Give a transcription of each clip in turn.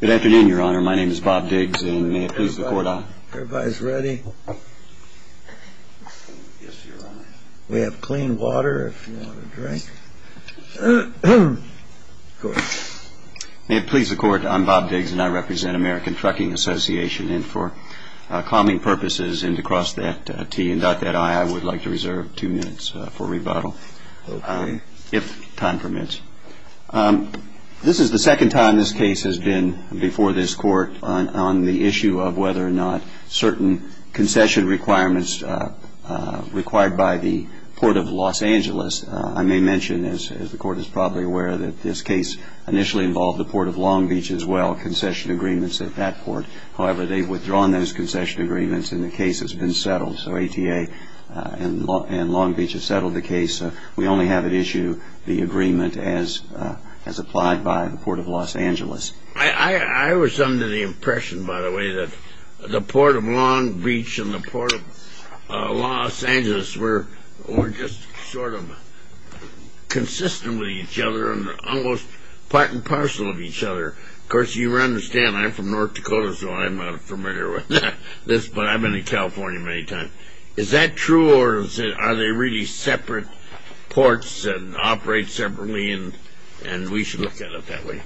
Good afternoon, Your Honor. My name is Bob Diggs, and may it please the Court, I'm Bob Diggs, and I represent American Trucking Association, and for calming purposes, and to cross that T and dot that I, I would like to reserve two minutes for rebuttal, if time permits. This is the second time this case has been before this Court on the issue of whether or not certain concession requirements required by the Port of Los Angeles, I may mention, as the Court is probably aware, that this case initially involved the Port of Long Beach as well, concession agreements at that port. However, they've withdrawn those concession agreements, and the case has been settled. So, ATA and Long Beach have settled the case. We only have at issue the agreement as applied by the Port of Los Angeles. I was under the impression, by the way, that the Port of Long Beach and the Port of Los Angeles were just sort of consistent with each other, and almost part and parcel of each other. Of course, you understand, I'm from North Dakota, so I'm familiar with this, but I've been to California many times. Is that true, or are they really separate ports, and operate separately, and we should look at it that way?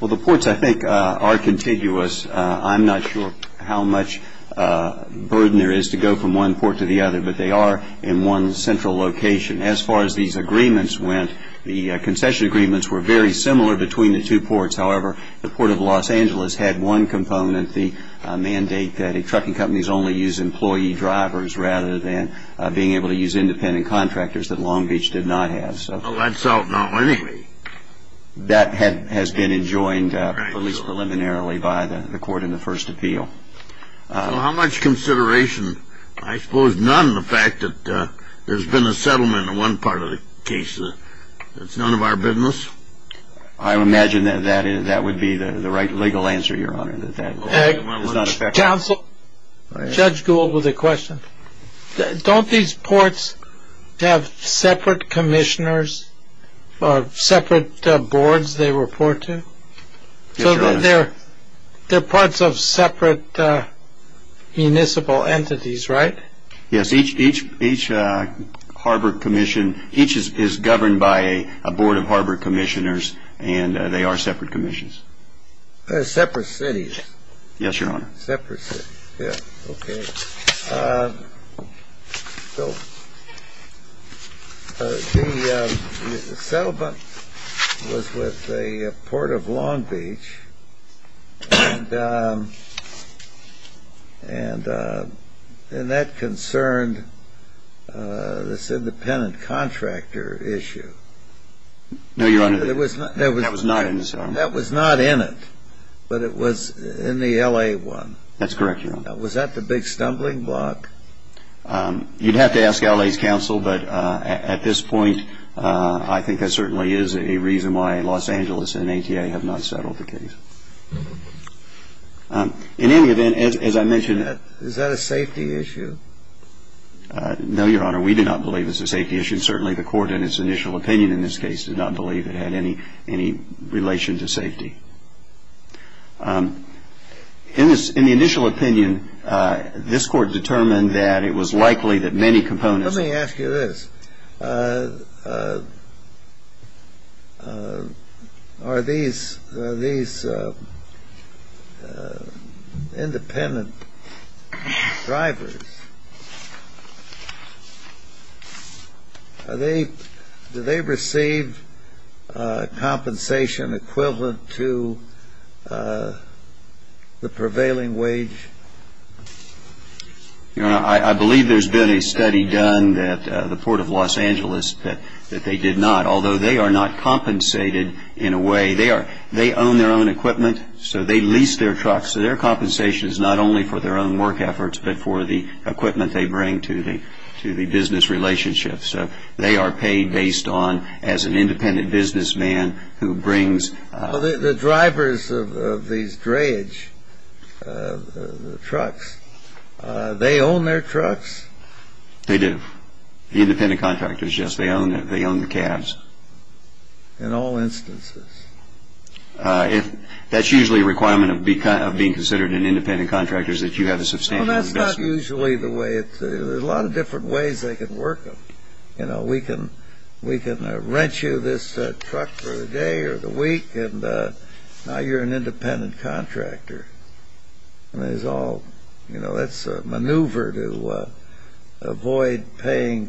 Well, the ports, I think, are contiguous. I'm not sure how much burden there is to go from one port to the other, but they are in one central location. As far as these agreements went, the concession agreements were very similar between the two ports. However, the Port of Los Angeles had one component, the mandate that trucking companies only use employee drivers, rather than being able to use independent contractors that Long Beach did not have. Well, that's out now, anyway. That has been enjoined, at least preliminarily, by the court in the first appeal. So, how much consideration, I suppose none, in the fact that there's been a settlement in one part of the case? That's none of our business? I imagine that would be the right legal answer, Your Honor. Judge Gould with a question. Don't these ports have separate commissioners, or separate boards they report to? Yes, Your Honor. So, they're parts of separate municipal entities, right? Yes, each harbor commission, each is governed by a board of harbor commissioners, and they are separate commissions. Separate cities. Yes, Your Honor. Separate cities. Okay. So, the settlement was with the Port of Long Beach, and that concerned this independent contractor issue. No, Your Honor, that was not in the settlement. That was not in it, but it was in the LA one. That's correct, Your Honor. Was that the big stumbling block? You'd have to ask LA's counsel, but at this point, I think that certainly is a reason why Los Angeles and ATA have not settled the case. In any event, as I mentioned... Is that a safety issue? No, Your Honor, we do not believe it's a safety issue. Certainly, the Court in its initial opinion in this case did not believe it had any relation to safety. In the initial opinion, this Court determined that it was likely that many components... Do they receive compensation equivalent to the prevailing wage? Your Honor, I believe there's been a study done at the Port of Los Angeles that they did not, although they are not compensated in a way. They own their own equipment, so they lease their trucks. So their compensation is not only for their own work efforts, but for the equipment they bring to the business relationships. They are paid based on as an independent businessman who brings... The drivers of these dreyage trucks, they own their trucks? They do. The independent contractors, yes, they own the cabs. In all instances? That's usually a requirement of being considered an independent contractor is that you have a substantial investment. Well, that's not usually the way it's... There's a lot of different ways they can work them. You know, we can rent you this truck for the day or the week, and now you're an independent contractor. I mean, it's all... You know, that's a maneuver to avoid paying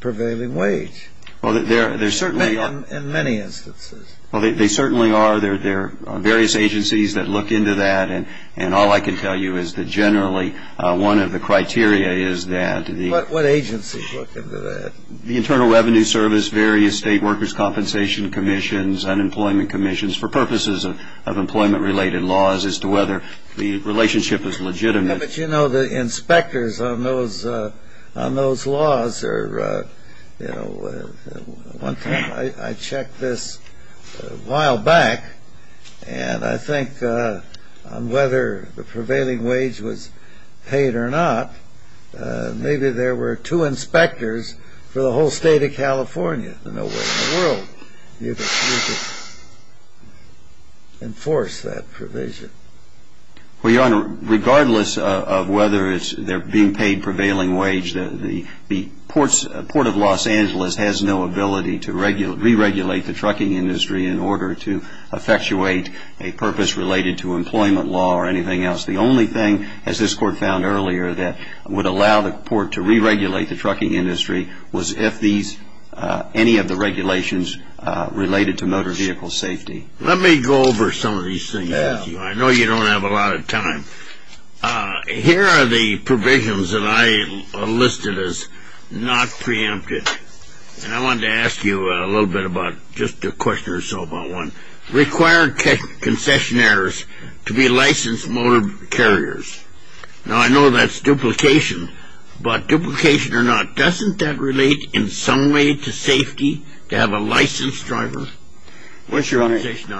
prevailing wage. In many instances. Well, they certainly are. There are various agencies that look into that, and all I can tell you is that generally one of the criteria is that... What agencies look into that? The Internal Revenue Service, various state workers' compensation commissions, unemployment commissions for purposes of employment-related laws as to whether the relationship is legitimate. But, you know, the inspectors on those laws are, you know... One time I checked this a while back, and I think on whether the prevailing wage was paid or not, maybe there were two inspectors for the whole state of California. There's no way in the world you could enforce that provision. Well, Your Honor, regardless of whether they're being paid prevailing wage, the Port of Los Angeles has no ability to re-regulate the trucking industry in order to effectuate a purpose related to employment law or anything else. The only thing, as this Court found earlier, that would allow the Port to re-regulate the trucking industry was if any of the regulations related to motor vehicle safety... Let me go over some of these things with you. I know you don't have a lot of time. Here are the provisions that I listed as not preempted. And I wanted to ask you a little bit about just a question or so about one. Require concessionaires to be licensed motor carriers. Now, I know that's duplication, but duplication or not, doesn't that relate in some way to safety to have a licensed driver? Well, Your Honor, here's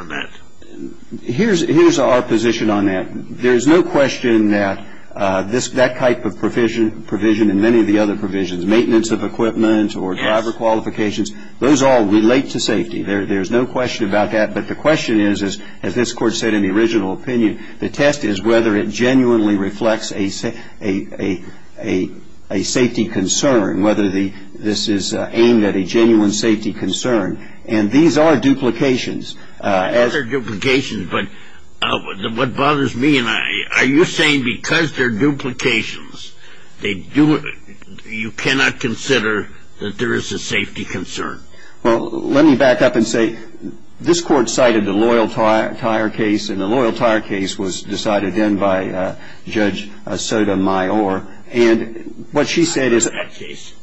our position on that. There's no question that that type of provision and many of the other provisions, maintenance of equipment or driver qualifications, those all relate to safety. There's no question about that. But the question is, as this Court said in the original opinion, the test is whether it genuinely reflects a safety concern, whether this is aimed at a genuine safety concern. And these are duplications. These are duplications, but what bothers me, are you saying because they're duplications, you cannot consider that there is a safety concern? Well, let me back up and say this Court cited the Loyal Tire case, and the Loyal Tire case was decided in by Judge Sotomayor. And what she said is,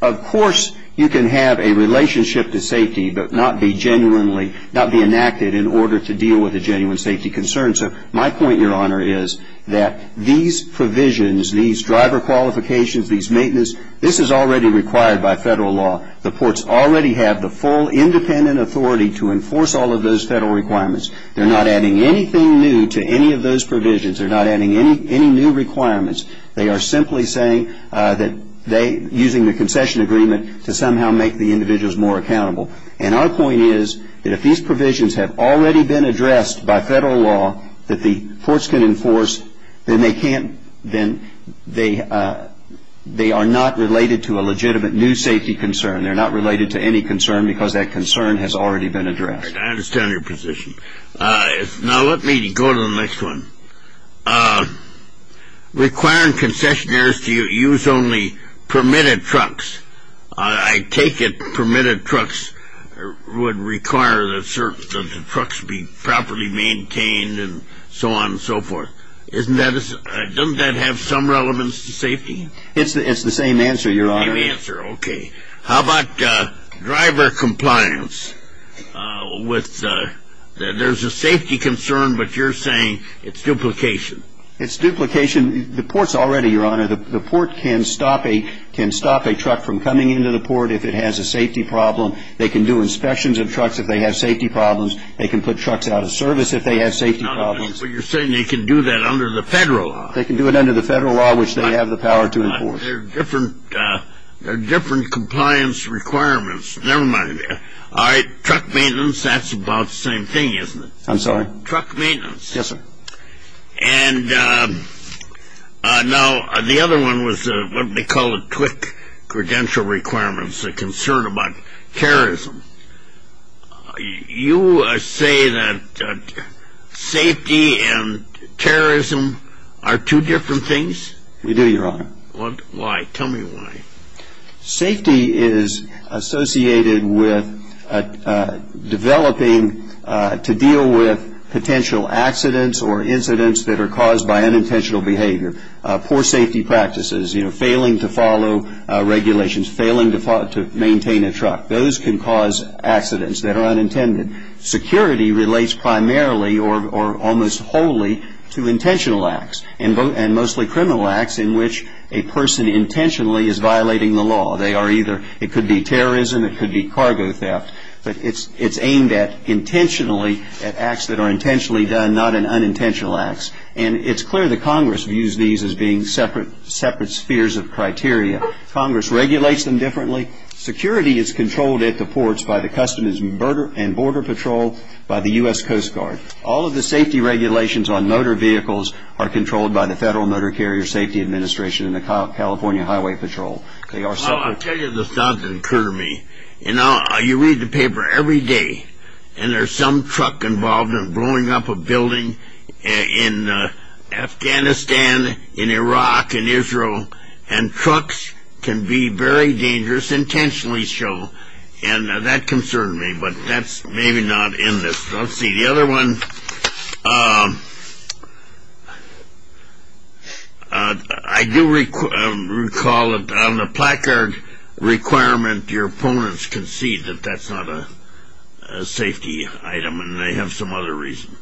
of course, you can have a relationship to safety, but not be enacted in order to deal with a genuine safety concern. So my point, Your Honor, is that these provisions, these driver qualifications, these maintenance, this is already required by federal law. The ports already have the full independent authority to enforce all of those federal requirements. They're not adding anything new to any of those provisions. They're not adding any new requirements. They are simply saying that using the concession agreement to somehow make the individuals more accountable. And our point is that if these provisions have already been addressed by federal law that the courts can enforce, then they are not related to a legitimate new safety concern. They're not related to any concern because that concern has already been addressed. I understand your position. Now, let me go to the next one. Requiring concessionaires to use only permitted trucks. I take it permitted trucks would require that the trucks be properly maintained and so on and so forth. Doesn't that have some relevance to safety? It's the same answer, Your Honor. It's the same answer. Okay. How about driver compliance? There's a safety concern, but you're saying it's duplication. It's duplication. The ports already, Your Honor, the port can stop a truck from coming into the port if it has a safety problem. They can do inspections of trucks if they have safety problems. They can put trucks out of service if they have safety problems. But you're saying they can do that under the federal law. They can do it under the federal law, which they have the power to enforce. They're different compliance requirements. Never mind. All right, truck maintenance, that's about the same thing, isn't it? I'm sorry? Truck maintenance. Yes, sir. And now the other one was what we call a TWC, credential requirements, a concern about terrorism. We do, Your Honor. Why? Tell me why. Safety is associated with developing to deal with potential accidents or incidents that are caused by unintentional behavior. Poor safety practices, you know, failing to follow regulations, failing to maintain a truck. Those can cause accidents that are unintended. Security relates primarily or almost wholly to intentional acts and mostly criminal acts in which a person intentionally is violating the law. They are either, it could be terrorism, it could be cargo theft. But it's aimed at intentionally, at acts that are intentionally done, not in unintentional acts. And it's clear that Congress views these as being separate spheres of criteria. Congress regulates them differently. Security is controlled at the ports by the Customs and Border Patrol, by the U.S. Coast Guard. All of the safety regulations on motor vehicles are controlled by the Federal Motor Carrier Safety Administration and the California Highway Patrol. They are separate. Well, I'll tell you the stuff that occurred to me. You know, you read the paper every day, and there's some truck involved in blowing up a building in Afghanistan, in Iraq, in Israel, and trucks can be very dangerous, intentionally so. And that concerned me, but that's maybe not in this. Let's see, the other one, I do recall that on the placard requirement, your opponents concede that that's not a safety item, and they have some other reason.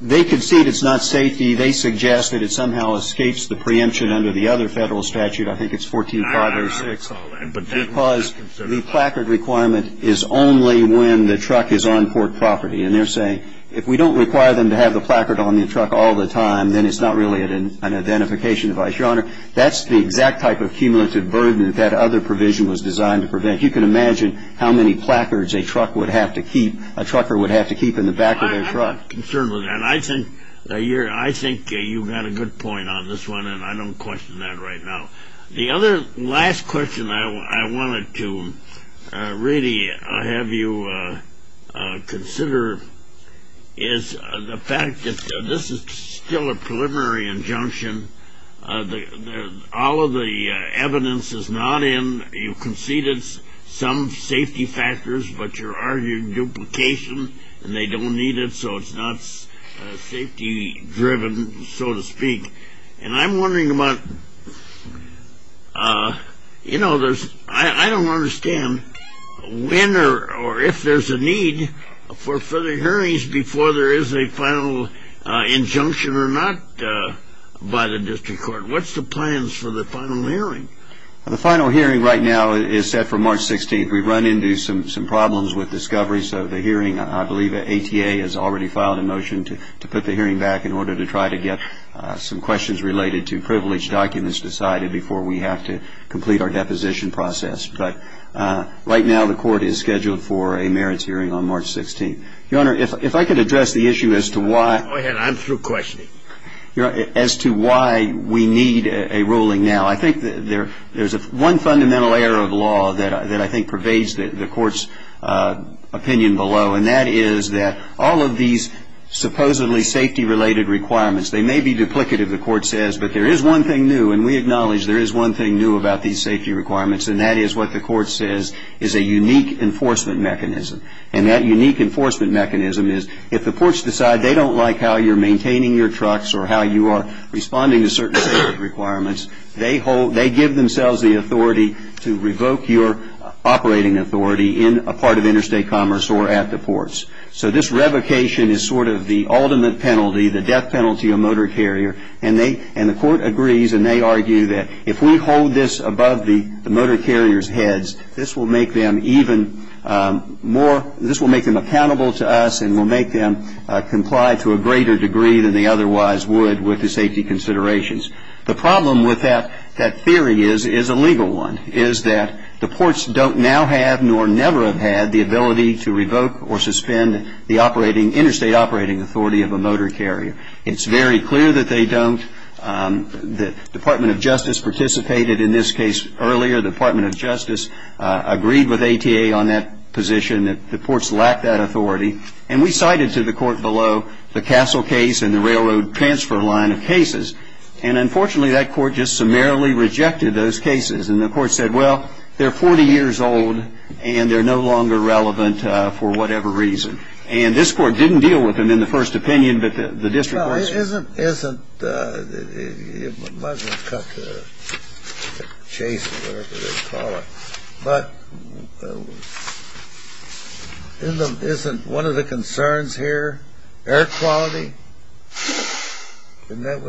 They concede it's not safety. They suggest that it somehow escapes the preemption under the other federal statute. I think it's 14506 because the placard requirement is only when the truck is on port property. And they're saying if we don't require them to have the placard on the truck all the time, then it's not really an identification device. Your Honor, that's the exact type of cumulative burden that that other provision was designed to prevent. You can imagine how many placards a trucker would have to keep in the back of their truck. I'm concerned with that. And I think you've got a good point on this one, and I don't question that right now. The other last question I wanted to really have you consider is the fact that this is still a preliminary injunction. All of the evidence is not in. You concede it's some safety factors, but you're arguing duplication, and they don't need it, so it's not safety-driven, so to speak. And I'm wondering about, you know, I don't understand when or if there's a need for further hearings before there is a final injunction or not by the district court. What's the plans for the final hearing? The final hearing right now is set for March 16th. We've run into some problems with discovery, so the hearing, I believe, ATA has already filed a motion to put the hearing back in order to try to get some questions related to privilege documents decided before we have to complete our deposition process. But right now the court is scheduled for a merits hearing on March 16th. Your Honor, if I could address the issue as to why we need a ruling now. I think there's one fundamental error of law that I think pervades the court's opinion below, and that is that all of these supposedly safety-related requirements, they may be duplicative, the court says, but there is one thing new, and we acknowledge there is one thing new about these safety requirements, and that is what the court says is a unique enforcement mechanism. And that unique enforcement mechanism is if the courts decide they don't like how you're maintaining your trucks or how you are responding to certain safety requirements, they give themselves the authority to revoke your operating authority in a part of interstate commerce or at the ports. So this revocation is sort of the ultimate penalty, the death penalty of a motor carrier, and the court agrees and they argue that if we hold this above the motor carrier's heads, this will make them accountable to us and will make them comply to a greater degree than they otherwise would with the safety considerations. The problem with that theory is a legal one, is that the ports don't now have nor never have had the ability to revoke or suspend the interstate operating authority of a motor carrier. It's very clear that they don't. The Department of Justice participated in this case earlier. The Department of Justice agreed with ATA on that position that the ports lacked that authority, and we cited to the court below the Castle case and the railroad transfer line of cases, and unfortunately that court just summarily rejected those cases. And the court said, well, they're 40 years old and they're no longer relevant for whatever reason. And this court didn't deal with them in the first opinion, but the district courts did. Isn't one of the concerns here air quality? There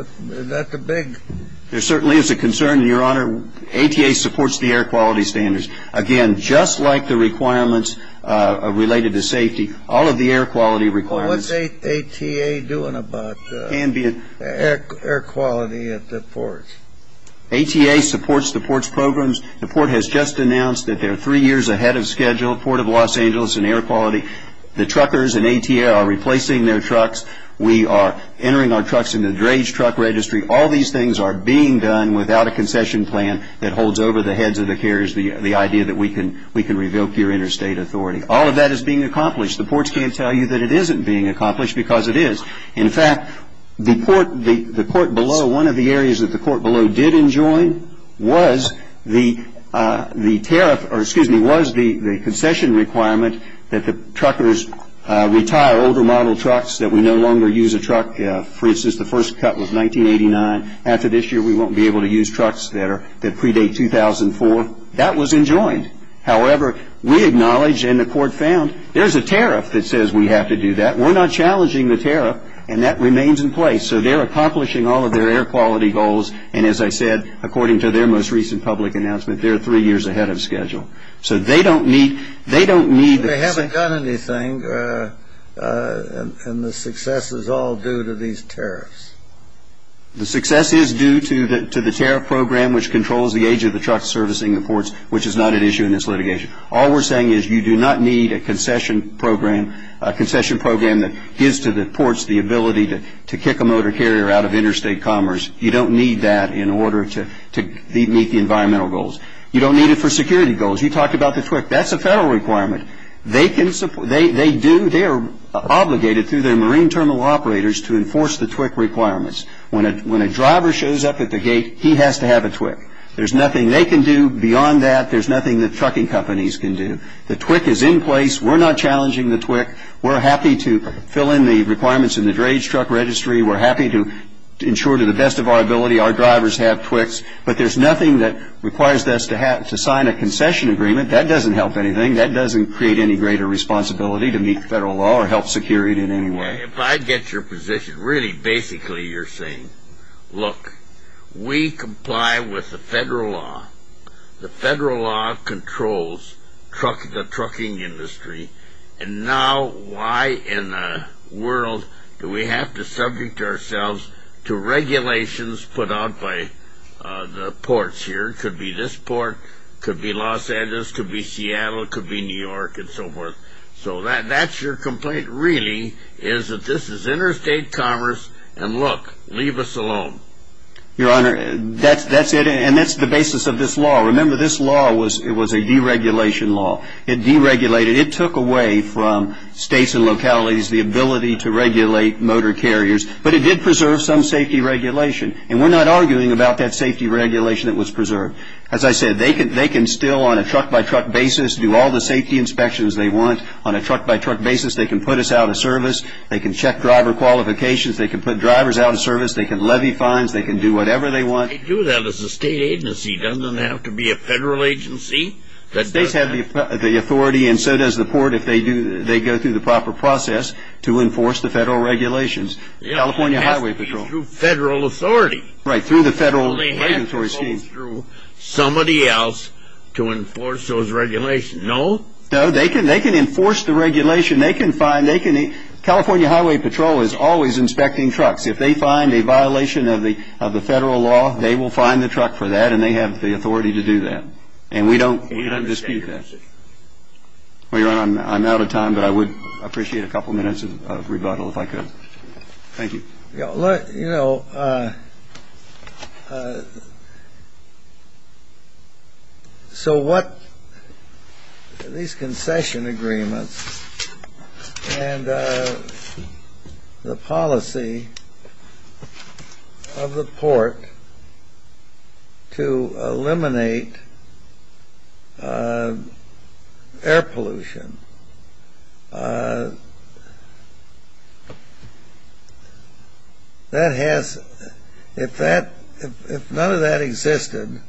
certainly is a concern, Your Honor. ATA supports the air quality standards. Again, just like the requirements related to safety, all of the air quality requirements. What's ATA doing about air quality at the ports? ATA supports the ports' programs. The port has just announced that they're three years ahead of schedule, Port of Los Angeles and air quality. The truckers and ATA are replacing their trucks. We are entering our trucks into the drage truck registry. All these things are being done without a concession plan that holds over the heads of the carriers, the idea that we can revoke your interstate authority. All of that is being accomplished. The ports can't tell you that it isn't being accomplished because it is. In fact, the port below, one of the areas that the port below did enjoin was the tariff or excuse me, was the concession requirement that the truckers retire older model trucks that we no longer use a truck. For instance, the first cut was 1989. After this year, we won't be able to use trucks that predate 2004. That was enjoined. However, we acknowledge and the court found there's a tariff that says we have to do that. We're not challenging the tariff, and that remains in place. So they're accomplishing all of their air quality goals. And as I said, according to their most recent public announcement, they're three years ahead of schedule. So they don't need the concession. They haven't done anything, and the success is all due to these tariffs. The success is due to the tariff program which controls the age of the trucks servicing the ports, which is not at issue in this litigation. All we're saying is you do not need a concession program that gives to the ports the ability to kick a motor carrier out of interstate commerce. You don't need that in order to meet the environmental goals. You don't need it for security goals. You talked about the TWIC. That's a federal requirement. They are obligated through their marine terminal operators to enforce the TWIC requirements. When a driver shows up at the gate, he has to have a TWIC. There's nothing they can do beyond that. There's nothing the trucking companies can do. The TWIC is in place. We're not challenging the TWIC. We're happy to fill in the requirements in the drage truck registry. We're happy to ensure to the best of our ability our drivers have TWICs. But there's nothing that requires us to sign a concession agreement. That doesn't help anything. That doesn't create any greater responsibility to meet federal law or help secure it in any way. If I get your position, really basically you're saying, look, we comply with the federal law. The federal law controls the trucking industry, and now why in the world do we have to subject ourselves to regulations put out by the ports here? It could be this port. It could be Los Angeles. It could be Seattle. It could be New York and so forth. So that's your complaint really is that this is interstate commerce, and look, leave us alone. Your Honor, that's it, and that's the basis of this law. Remember, this law was a deregulation law. It deregulated. It took away from states and localities the ability to regulate motor carriers, but it did preserve some safety regulation, and we're not arguing about that safety regulation that was preserved. As I said, they can still on a truck-by-truck basis do all the safety inspections they want. On a truck-by-truck basis, they can put us out of service. They can check driver qualifications. They can put drivers out of service. They can levy fines. They can do whatever they want. They do that as a state agency. It doesn't have to be a federal agency. States have the authority, and so does the port if they go through the proper process to enforce the federal regulations. California Highway Patrol. It has to be through federal authority. Right, through the federal regulatory scheme. It has to be through somebody else to enforce those regulations. No? No. They can enforce the regulation. They can find. They can. California Highway Patrol is always inspecting trucks. If they find a violation of the federal law, they will fine the truck for that, and they have the authority to do that, and we don't dispute that. I'm out of time, but I would appreciate a couple minutes of rebuttal if I could. Thank you. You know, so what these concession agreements and the policy of the port to eliminate air pollution, if none of that existed,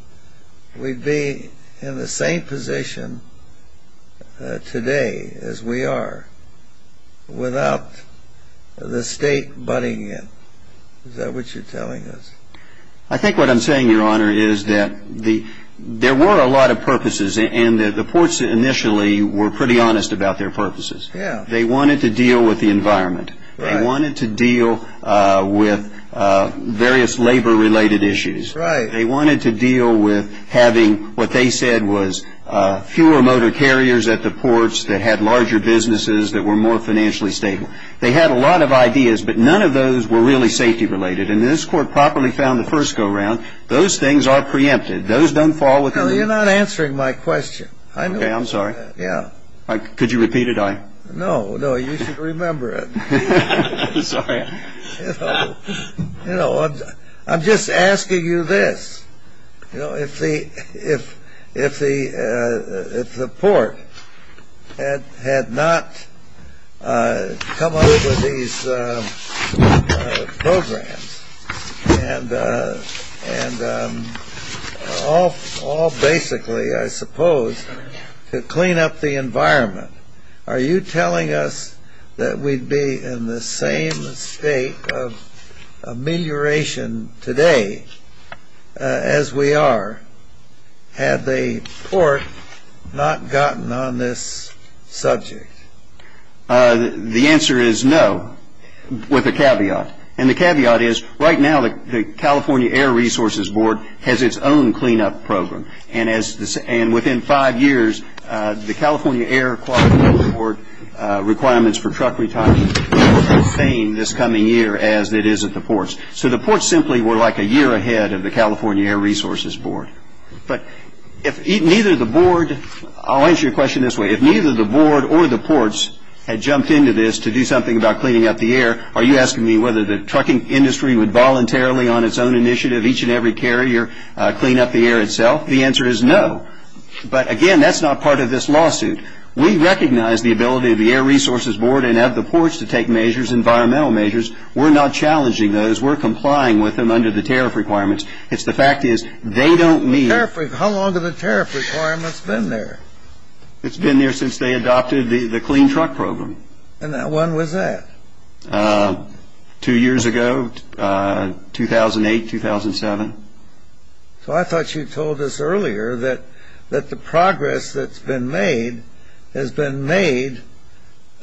we'd be in the same position today as we are without the state buddying in. Is that what you're telling us? I think what I'm saying, Your Honor, is that there were a lot of purposes, and the ports initially were pretty honest about their purposes. Yeah. They wanted to deal with the environment. Right. They wanted to deal with various labor-related issues. Right. They wanted to deal with having what they said was fewer motor carriers at the ports that had larger businesses that were more financially stable. They had a lot of ideas, but none of those were really safety-related, and this Court properly found the first go-around. Those things are preempted. Those don't fall within the rules. You know, you're not answering my question. Okay, I'm sorry. Yeah. Could you repeat it? No, no, you should remember it. Sorry. You know, I'm just asking you this. You know, if the port had not come up with these programs, and all basically, I suppose, to clean up the environment, are you telling us that we'd be in the same state of amelioration today as we are had the port not gotten on this subject? The answer is no, with a caveat, and the caveat is right now the California Air Resources Board has its own cleanup program, and within five years the California Air Quality Board requirements for truck retirement are the same this coming year as it is at the ports. So the ports simply were like a year ahead of the California Air Resources Board. But if neither the board, I'll answer your question this way, if neither the board or the ports had jumped into this to do something about cleaning up the air, are you asking me whether the trucking industry would voluntarily, on its own initiative, each and every carrier clean up the air itself? The answer is no, but again, that's not part of this lawsuit. We recognize the ability of the Air Resources Board and of the ports to take measures, environmental measures. We're not challenging those. We're complying with them under the tariff requirements. It's the fact is they don't need... How long have the tariff requirements been there? It's been there since they adopted the clean truck program. And when was that? Two years ago, 2008, 2007. So I thought you told us earlier that the progress that's been made has been made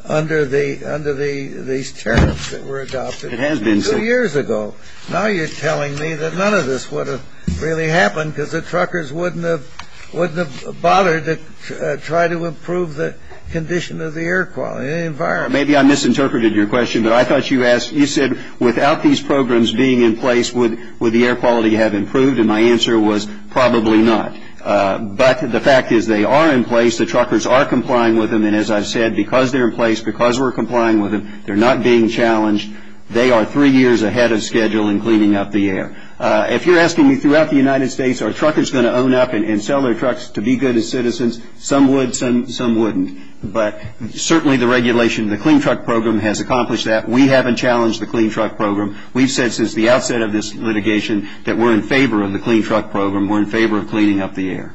under these tariffs that were adopted. It has been. Two years ago. Now you're telling me that none of this would have really happened because the truckers wouldn't have bothered to try to improve the condition of the air quality, the environment. Maybe I misinterpreted your question, but I thought you said without these programs being in place, would the air quality have improved? And my answer was probably not. But the fact is they are in place. The truckers are complying with them. And as I've said, because they're in place, because we're complying with them, they're not being challenged. They are three years ahead of schedule in cleaning up the air. If you're asking me throughout the United States, are truckers going to own up and sell their trucks to be good as citizens, some would, some wouldn't. But certainly the regulation of the clean truck program has accomplished that. We haven't challenged the clean truck program. We've said since the outset of this litigation that we're in favor of the clean truck program. We're in favor of cleaning up the air.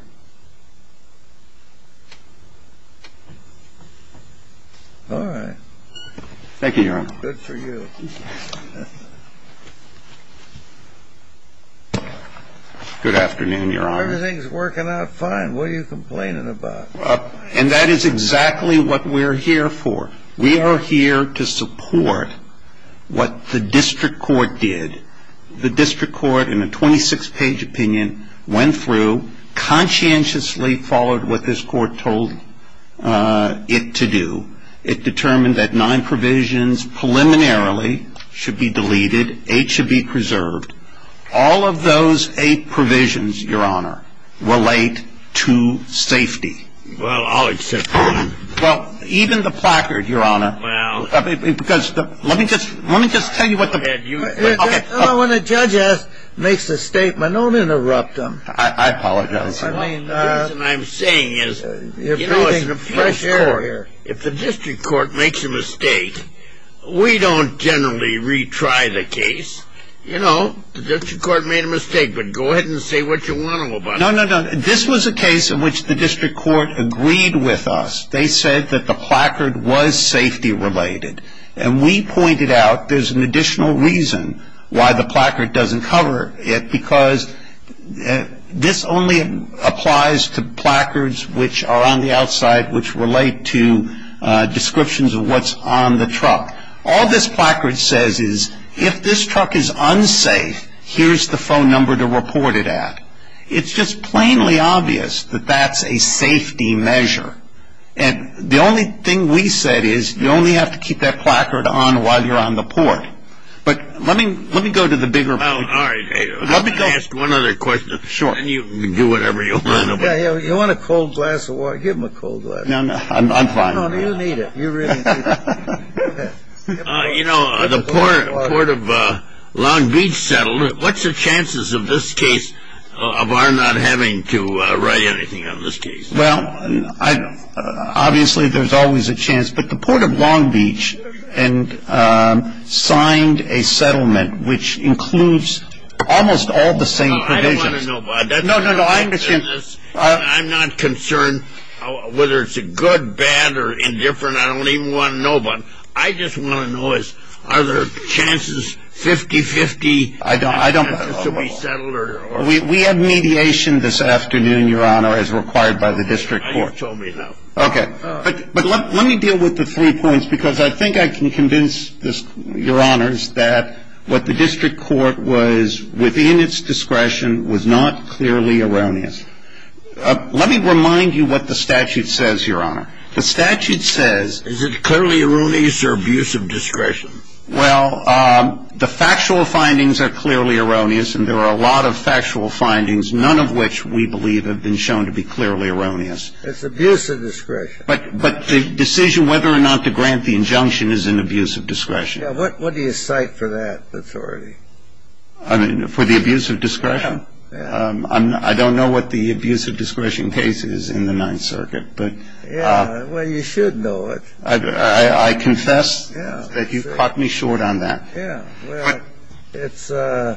All right. Thank you, Your Honor. Good for you. Good afternoon, Your Honor. Everything's working out fine. What are you complaining about? And that is exactly what we're here for. We are here to support what the district court did. The district court, in a 26-page opinion, went through, conscientiously followed what this court told it to do. It determined that nine provisions preliminarily should be deleted, eight should be preserved. All of those eight provisions, Your Honor, relate to safety. Well, I'll accept that. Well, even the placard, Your Honor. Well. Because let me just tell you what the... Go ahead. When a judge makes a statement, don't interrupt him. I apologize. I mean... The reason I'm saying is... You're breathing fresh air here. You know, as a fresh court, if the district court makes a mistake, we don't generally retry the case. You know, the district court made a mistake, but go ahead and say what you want about it. No, no, no. This was a case in which the district court agreed with us. They said that the placard was safety-related. And we pointed out there's an additional reason why the placard doesn't cover it, because this only applies to placards which are on the outside, which relate to descriptions of what's on the truck. All this placard says is if this truck is unsafe, here's the phone number to report it at. It's just plainly obvious that that's a safety measure. And the only thing we said is you only have to keep that placard on while you're on the port. But let me go to the bigger point. Well, all right. Let me ask one other question, and then you can do whatever you want. You want a cold glass of water? Give him a cold glass. No, no, I'm fine. No, no, you need it. You really need it. You know, the port of Long Beach settled. What's the chances of this case of our not having to write anything on this case? Well, obviously there's always a chance. But the port of Long Beach signed a settlement which includes almost all the same provisions. No, I don't want to know about that. No, no, no, I understand. I'm not concerned whether it's good, bad, or indifferent. I don't even want to know about it. I just want to know is are there chances, 50-50, chances to be settled? We have mediation this afternoon, Your Honor, as required by the district court. You've told me enough. Okay. But let me deal with the three points because I think I can convince, Your Honors, that what the district court was within its discretion was not clearly erroneous. Let me remind you what the statute says, Your Honor. The statute says… Is it clearly erroneous or abuse of discretion? Well, the factual findings are clearly erroneous, and there are a lot of factual findings, none of which we believe have been shown to be clearly erroneous. It's abuse of discretion. But the decision whether or not to grant the injunction is an abuse of discretion. Yeah. What do you cite for that authority? For the abuse of discretion? Yeah. I don't know what the abuse of discretion case is in the Ninth Circuit. Yeah. Well, you should know it. I confess that you caught me short on that. Yeah. Well, it's Los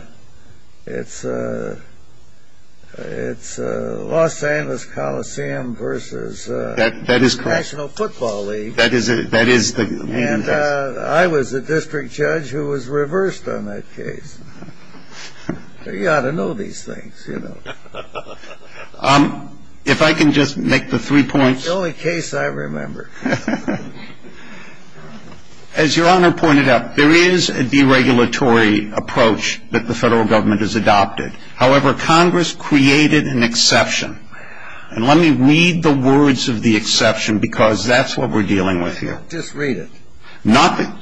Angeles Coliseum versus… That is correct.… National Football League. That is the main… And I was the district judge who was reversed on that case. You ought to know these things, you know. If I can just make the three points… It's the only case I remember. As Your Honor pointed out, there is a deregulatory approach that the federal government has adopted. However, Congress created an exception. And let me read the words of the exception because that's what we're dealing with here. Just read it. Nothing.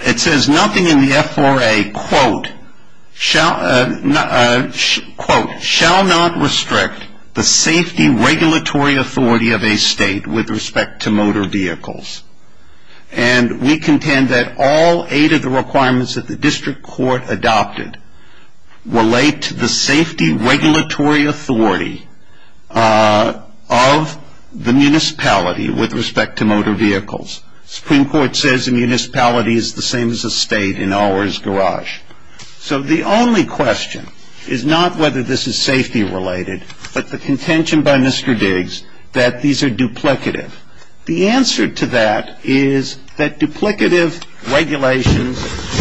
It says, nothing in the FRA, quote, quote, shall not restrict the safety regulatory authority of a state with respect to motor vehicles. And we contend that all eight of the requirements that the district court adopted relate to the safety regulatory authority of the municipality with respect to motor vehicles. Supreme Court says the municipality is the same as a state in ours, garage. So the only question is not whether this is safety related, but the contention by Mr. Diggs that these are duplicative. The answer to that is that duplicative regulations,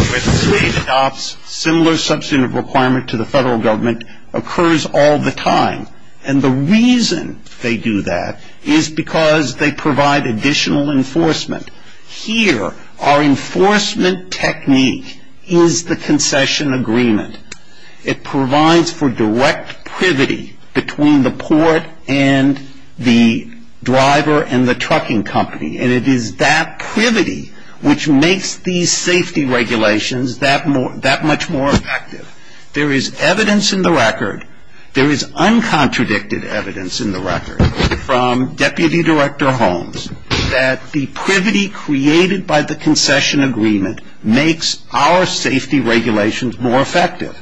where the state adopts similar substantive requirement to the federal government, occurs all the time. And the reason they do that is because they provide additional enforcement. Here, our enforcement technique is the concession agreement. It provides for direct privity between the port and the driver and the trucking company. And it is that privity which makes these safety regulations that much more effective. There is evidence in the record. There is uncontradicted evidence in the record from Deputy Director Holmes that the privity created by the concession agreement makes our safety regulations more effective.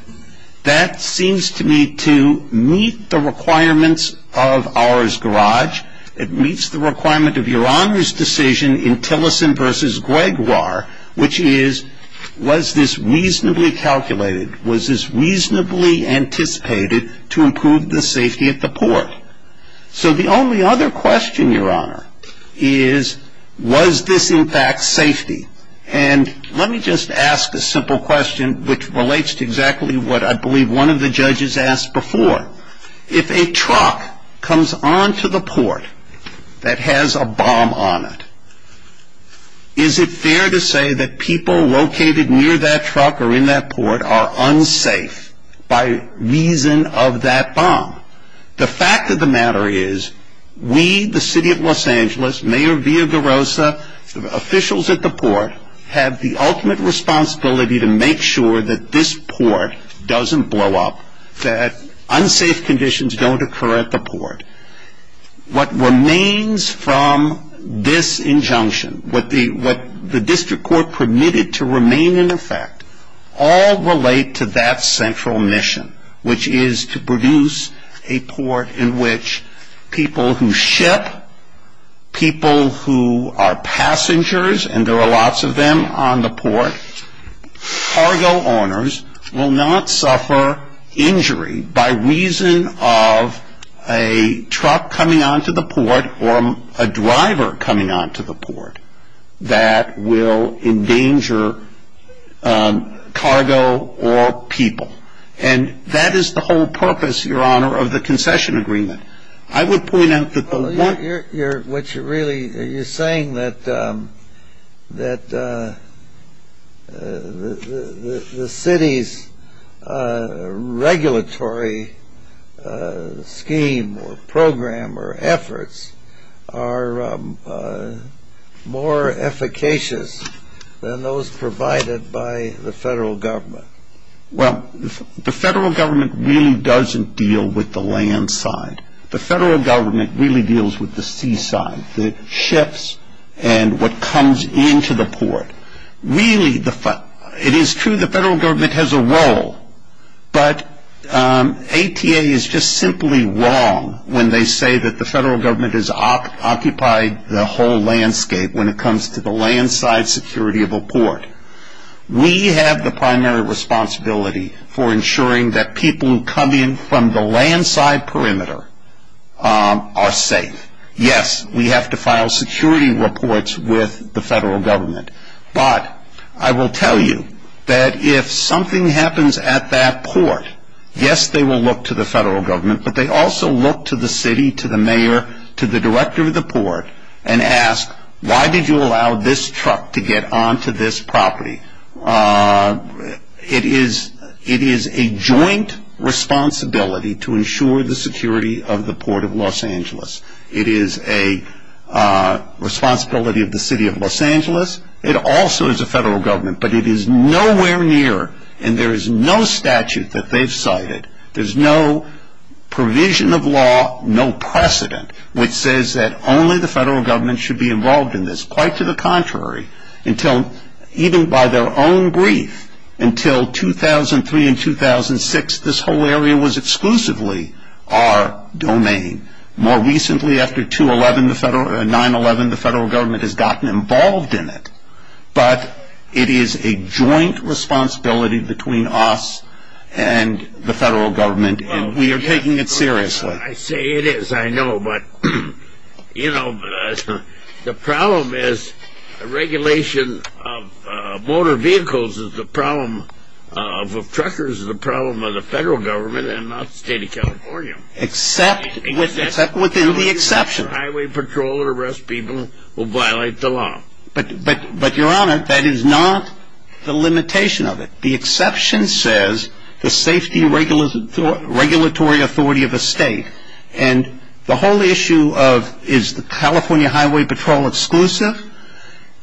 That seems to me to meet the requirements of ours, garage. It meets the requirement of Your Honor's decision in Tillerson versus Gregoire, which is was this reasonably calculated? Was this reasonably anticipated to improve the safety at the port? So the only other question, Your Honor, is was this, in fact, safety? And let me just ask a simple question which relates to exactly what I believe one of the judges asked before. If a truck comes onto the port that has a bomb on it, is it fair to say that people located near that truck or in that port are unsafe by reason of that bomb? The fact of the matter is we, the City of Los Angeles, Mayor Villaraigosa, officials at the port, have the ultimate responsibility to make sure that this port doesn't blow up, that unsafe conditions don't occur at the port. What remains from this injunction, what the district court permitted to remain in effect, all relate to that central mission, which is to produce a port in which people who ship, people who are passengers, and there are lots of them on the port, cargo owners will not suffer injury by reason of a truck coming onto the port or a driver coming onto the port that will endanger cargo or people. And that is the whole purpose, Your Honor, of the concession agreement. Well, you're saying that the city's regulatory scheme or program or efforts are more efficacious than those provided by the federal government. Well, the federal government really doesn't deal with the land side. The federal government really deals with the seaside, the ships and what comes into the port. Really, it is true the federal government has a role, but ATA is just simply wrong when they say that the federal government has occupied the whole landscape when it comes to the land side security of a port. We have the primary responsibility for ensuring that people who come in from the land side perimeter are safe. Yes, we have to file security reports with the federal government, but I will tell you that if something happens at that port, yes, they will look to the federal government, but they also look to the city, to the mayor, to the director of the port, and ask, why did you allow this truck to get onto this property? It is a joint responsibility to ensure the security of the port of Los Angeles. It is a responsibility of the city of Los Angeles. It also is a federal government, but it is nowhere near, and there is no statute that they've cited. There is no provision of law, no precedent, which says that only the federal government should be involved in this. Quite to the contrary, even by their own brief, until 2003 and 2006, this whole area was exclusively our domain. More recently, after 9-11, the federal government has gotten involved in it, but it is a joint responsibility between us and the federal government, and we are taking it seriously. I say it is, I know, but, you know, the problem is, regulation of motor vehicles is the problem of truckers is the problem of the federal government, and not the state of California. Except within the exception. Highway patrol and arrest people will violate the law. But, Your Honor, that is not the limitation of it. The exception says the safety regulatory authority of a state, and the whole issue of is the California Highway Patrol exclusive?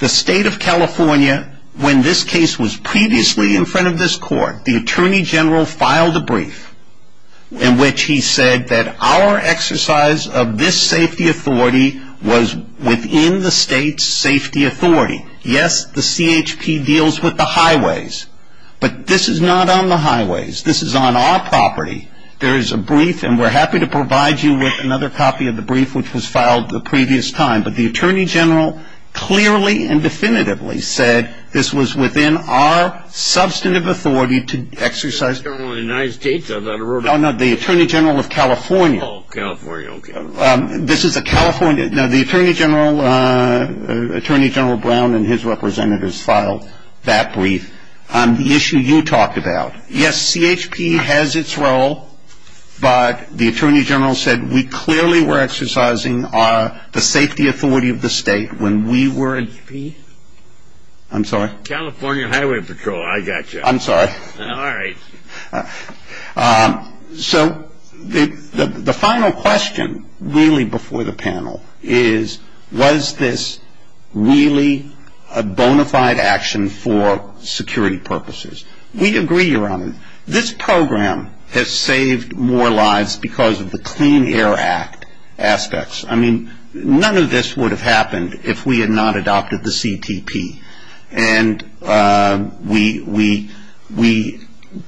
The state of California, when this case was previously in front of this court, the Attorney General filed a brief in which he said that our exercise of this safety authority was within the state's safety authority. Yes, the CHP deals with the highways, but this is not on the highways. This is on our property. There is a brief, and we're happy to provide you with another copy of the brief which was filed the previous time, but the Attorney General clearly and definitively said this was within our substantive authority to exercise. The Attorney General of the United States? No, no, the Attorney General of California. Oh, California, okay. Now, the Attorney General Brown and his representatives filed that brief. The issue you talked about, yes, CHP has its role, but the Attorney General said we clearly were exercising the safety authority of the state when we were CHP? I'm sorry? California Highway Patrol. I got you. I'm sorry. All right. So the final question really before the panel is, was this really a bona fide action for security purposes? We'd agree, Your Honor, this program has saved more lives because of the Clean Air Act aspects. I mean, none of this would have happened if we had not adopted the CTP, and we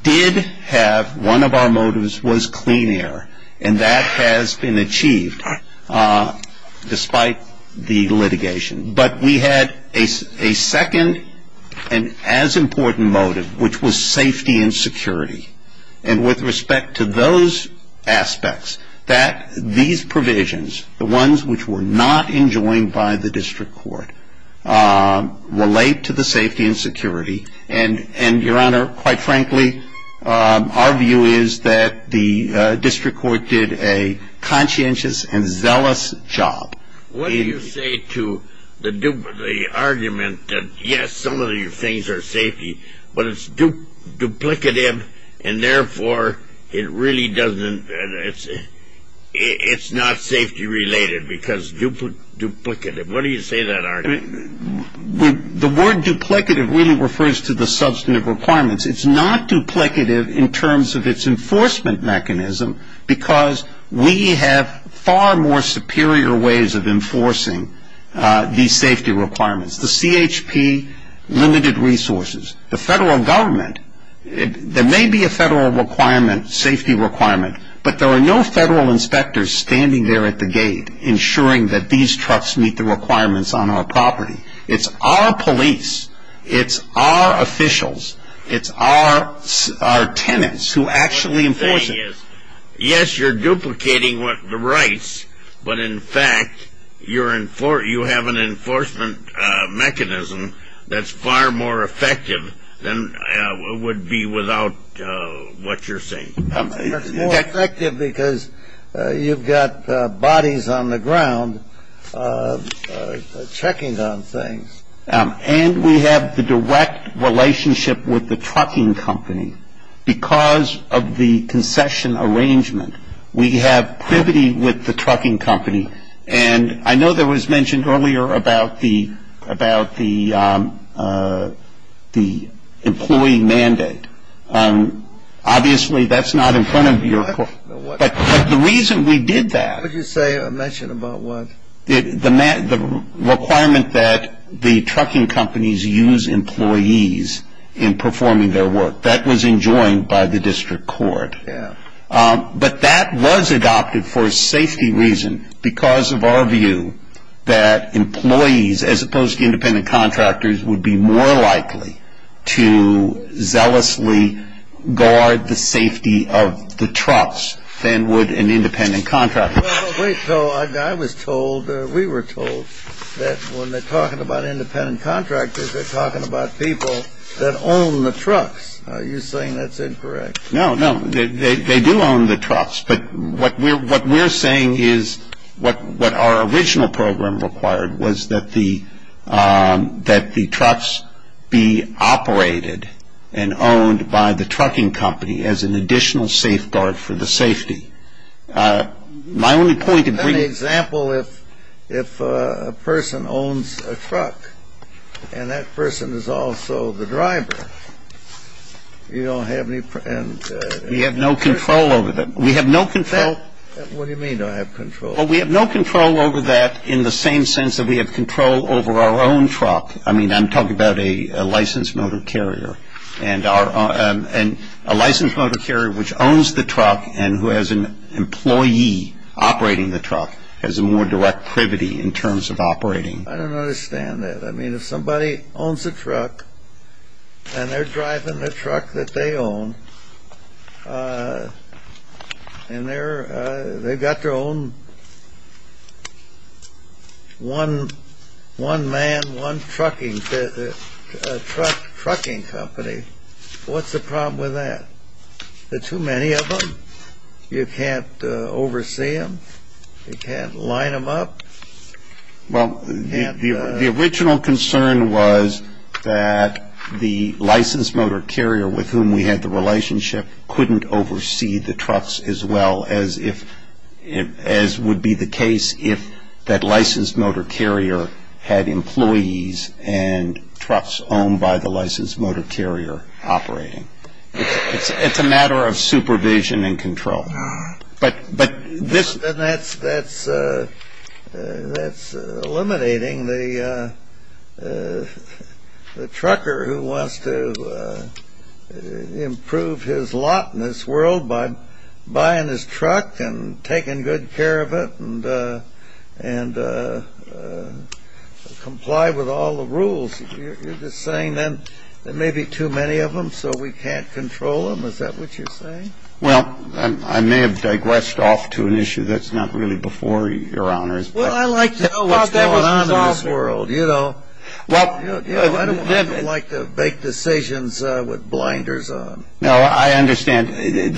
did have one of our motives was clean air, and that has been achieved despite the litigation. But we had a second and as important motive, which was safety and security. And with respect to those aspects, that these provisions, the ones which were not enjoined by the district court, relate to the safety and security. And, Your Honor, quite frankly, our view is that the district court did a conscientious and zealous job. What do you say to the argument that, yes, some of these things are safety, but it's duplicative and therefore it really doesn't, it's not safety related because duplicative. What do you say to that argument? The word duplicative really refers to the substantive requirements. It's not duplicative in terms of its enforcement mechanism because we have far more superior ways of enforcing these safety requirements. The CHP limited resources. The federal government, there may be a federal requirement, safety requirement, but there are no federal inspectors standing there at the gate ensuring that these trucks meet the requirements on our property. It's our police. It's our officials. It's our tenants who actually enforce it. Yes, you're duplicating the rights, but, in fact, you have an enforcement mechanism that's far more effective than it would be without what you're saying. It's more effective because you've got bodies on the ground checking on things. And we have the direct relationship with the trucking company because of the concession arrangement. We have privity with the trucking company. And I know there was mentioned earlier about the employee mandate. Obviously, that's not in front of your court. But the reason we did that. What did you say or mention about what? The requirement that the trucking companies use employees in performing their work. That was enjoined by the district court. But that was adopted for a safety reason because of our view that employees, as opposed to independent contractors, would be more likely to zealously guard the safety of the trucks than would an independent contractor. Wait. I was told, we were told, that when they're talking about independent contractors, they're talking about people that own the trucks. Are you saying that's incorrect? No, no. They do own the trucks. But what we're saying is what our original program required was that the trucks be operated and owned by the trucking company as an additional safeguard for the safety. My only point of briefing. Is that an example if a person owns a truck and that person is also the driver? You don't have any. We have no control over them. We have no control. What do you mean, don't have control? Well, we have no control over that in the same sense that we have control over our own truck. I mean, I'm talking about a licensed motor carrier. And a licensed motor carrier which owns the truck and who has an employee operating the truck has a more direct privity in terms of operating. I don't understand that. I mean, if somebody owns a truck and they're driving the truck that they own and they've got their own one man, one trucking company, what's the problem with that? There are too many of them. You can't oversee them. You can't line them up. Well, the original concern was that the licensed motor carrier with whom we had the relationship couldn't oversee the trucks as well as would be the case if that licensed motor carrier had employees and trucks owned by the licensed motor carrier operating. It's a matter of supervision and control. And that's eliminating the trucker who wants to improve his lot in this world by buying his truck and taking good care of it and comply with all the rules. You're just saying then there may be too many of them so we can't control them. Is that what you're saying? Well, I may have digressed off to an issue that's not really before your honors. Well, I'd like to know what's going on in this world. I don't like to make decisions with blinders on. No, I understand.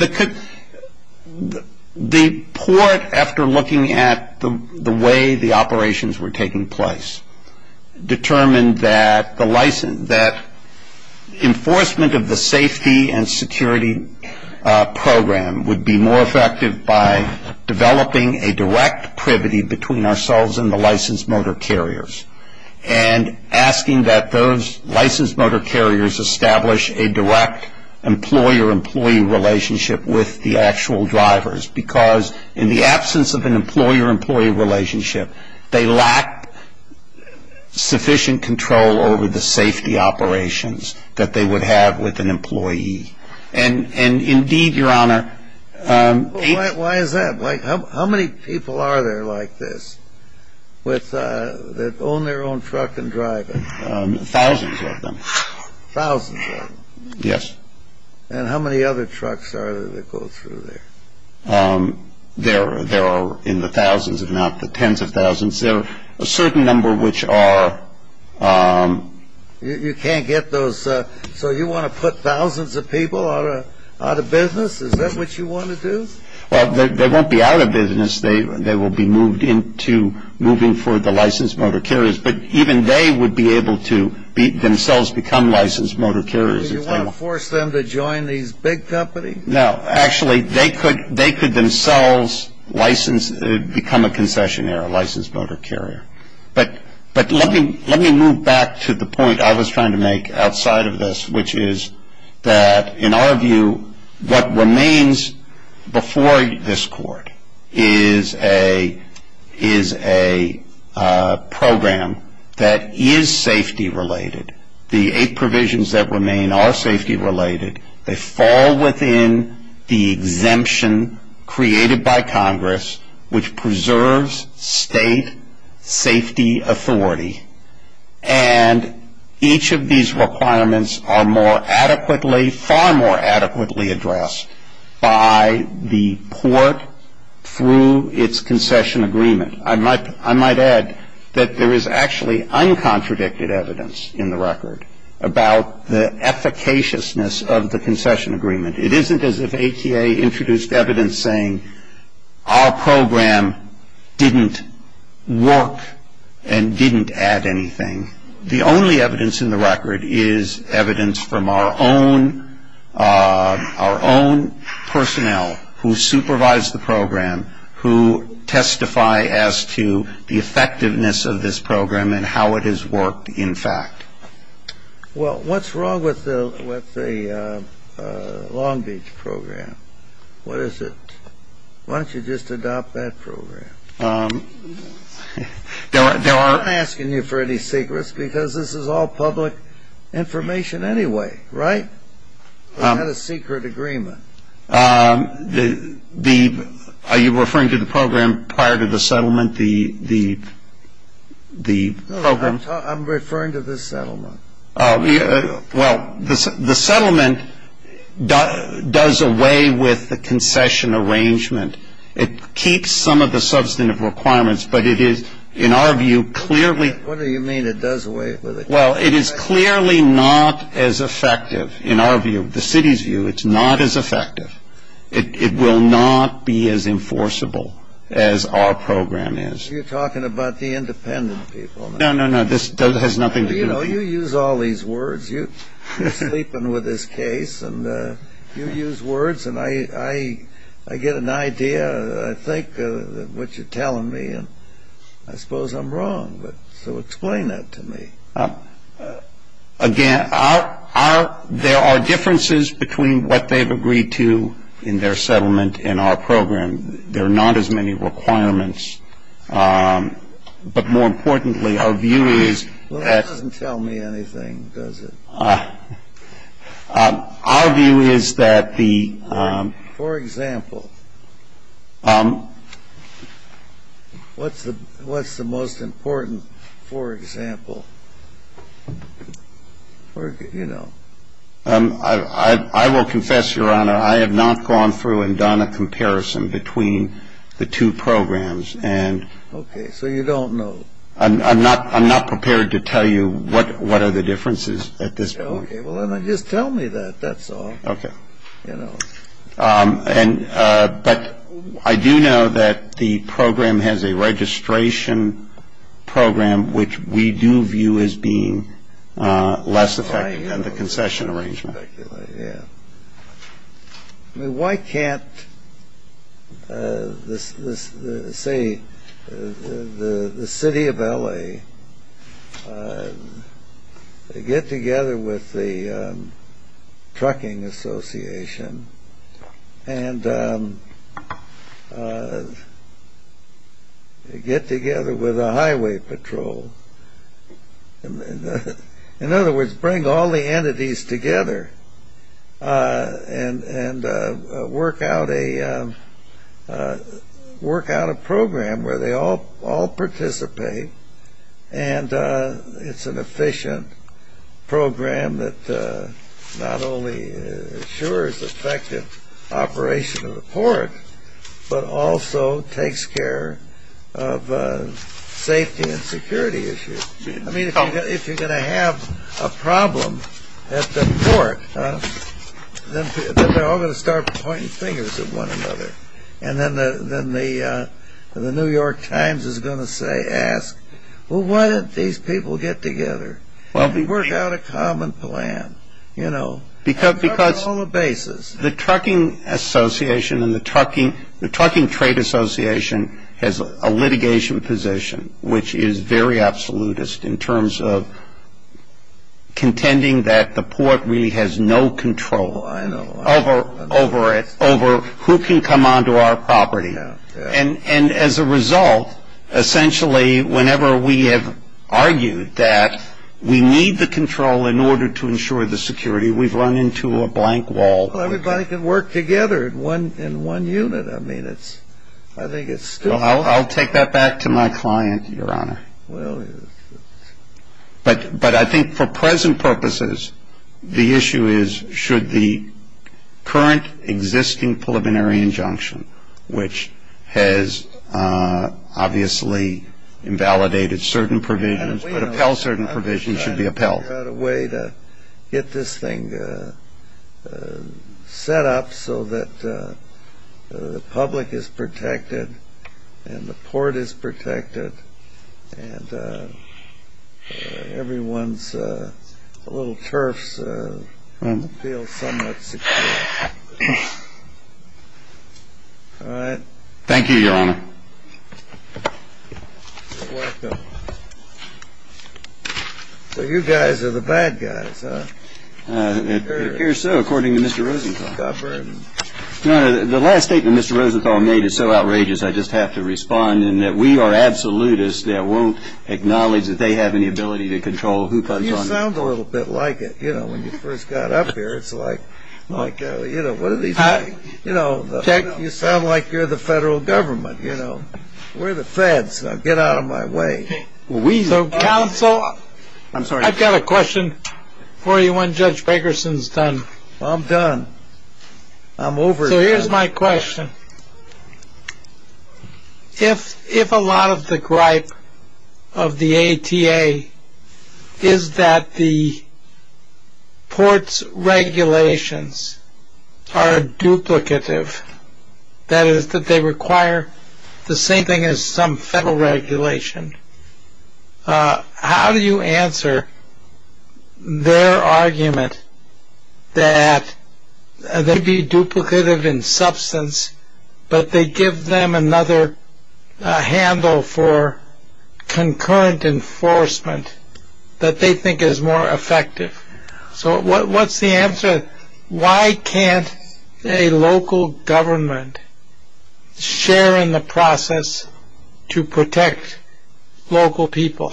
The port, after looking at the way the operations were taking place, determined that enforcement of the safety and security program would be more effective by developing a direct privity between ourselves and the licensed motor carriers and asking that those licensed motor carriers establish a direct employer-employee relationship with the actual drivers because in the absence of an employer-employee relationship, they lack sufficient control over the safety operations that they would have with an employee. And indeed, your honor, Why is that? How many people are there like this that own their own truck and drive it? Thousands of them. Thousands of them? Yes. And how many other trucks are there that go through there? There are in the thousands, if not the tens of thousands. There are a certain number which are You can't get those. So you want to put thousands of people out of business? Is that what you want to do? Well, they won't be out of business. They will be moved into moving for the licensed motor carriers. But even they would be able to themselves become licensed motor carriers. Do you want to force them to join these big companies? No. Actually, they could themselves become a concessionaire, a licensed motor carrier. But let me move back to the point I was trying to make outside of this, which is that in our view, what remains before this court is a program that is safety-related. The eight provisions that remain are safety-related. They fall within the exemption created by Congress, which preserves state safety authority. And each of these requirements are more adequately, far more adequately, addressed by the port through its concession agreement. I might add that there is actually uncontradicted evidence in the record about the efficaciousness of the concession agreement. It isn't as if ATA introduced evidence saying our program didn't work and didn't add anything. The only evidence in the record is evidence from our own personnel who supervise the program, who testify as to the effectiveness of this program and how it has worked in fact. Well, what's wrong with the Long Beach program? What is it? Why don't you just adopt that program? I'm not asking you for any secrets because this is all public information anyway, right? We had a secret agreement. Are you referring to the program prior to the settlement, the program? I'm referring to the settlement. Well, the settlement does away with the concession arrangement. It keeps some of the substantive requirements, but it is, in our view, clearly What do you mean it does away with it? Well, it is clearly not as effective. In our view, the city's view, it's not as effective. It will not be as enforceable as our program is. You're talking about the independent people. No, no, no, this has nothing to do with it. You know, you use all these words. You're sleeping with this case, and you use words, and I get an idea, I think, of what you're telling me. I suppose I'm wrong, but so explain that to me. Again, there are differences between what they've agreed to in their settlement and our program. There are not as many requirements. But more importantly, our view is that Well, that doesn't tell me anything, does it? Our view is that the For example. What's the most important for example? I will confess, Your Honor, I have not gone through and done a comparison between the two programs. Okay, so you don't know. I'm not prepared to tell you what are the differences at this point. Okay, well then just tell me that, that's all. But I do know that the program has a registration program, which we do view as being less effective than the concession arrangement. Why can't, say, the city of L.A. get together with the trucking association and get together with the highway patrol? In other words, bring all the entities together and work out a program where they all participate and it's an efficient program that not only ensures effective operation of the port, but also takes care of safety and security issues. I mean, if you're going to have a problem at the port, then they're all going to start pointing fingers at one another. And then the New York Times is going to say, ask, Well, why didn't these people get together and work out a common plan? Because the trucking association and the trucking trade association has a litigation position, which is very absolutist in terms of contending that the port really has no control over it, over who can come onto our property. And as a result, essentially, whenever we have argued that we need the control in order to ensure the security, we've run into a blank wall. Well, everybody can work together in one unit. I mean, I think it's stupid. I'll take that back to my client, Your Honor. But I think for present purposes, the issue is, should the current existing preliminary injunction, which has obviously invalidated certain provisions, should be upheld. We've got a way to get this thing set up so that the public is protected and the port is protected and everyone's little turfs feel somewhat secure. All right. Thank you, Your Honor. You're welcome. So you guys are the bad guys, huh? It appears so, according to Mr. Rosenthal. Your Honor, the last statement Mr. Rosenthal made is so outrageous, I just have to respond in that we are absolutists that won't acknowledge that they have any ability to control who comes onto our property. You sound a little bit like it. You know, when you first got up here, it's like, you know, what are these guys? You sound like you're the federal government, you know. We're the feds. Now, get out of my way. So, counsel, I've got a question for you when Judge Bakerson's done. I'm done. I'm over it. So here's my question. If a lot of the gripe of the ATA is that the port's regulations are duplicative, that is that they require the same thing as some federal regulation, how do you answer their argument that they be duplicative in substance, but they give them another handle for concurrent enforcement that they think is more effective? So what's the answer? Why can't a local government share in the process to protect local people?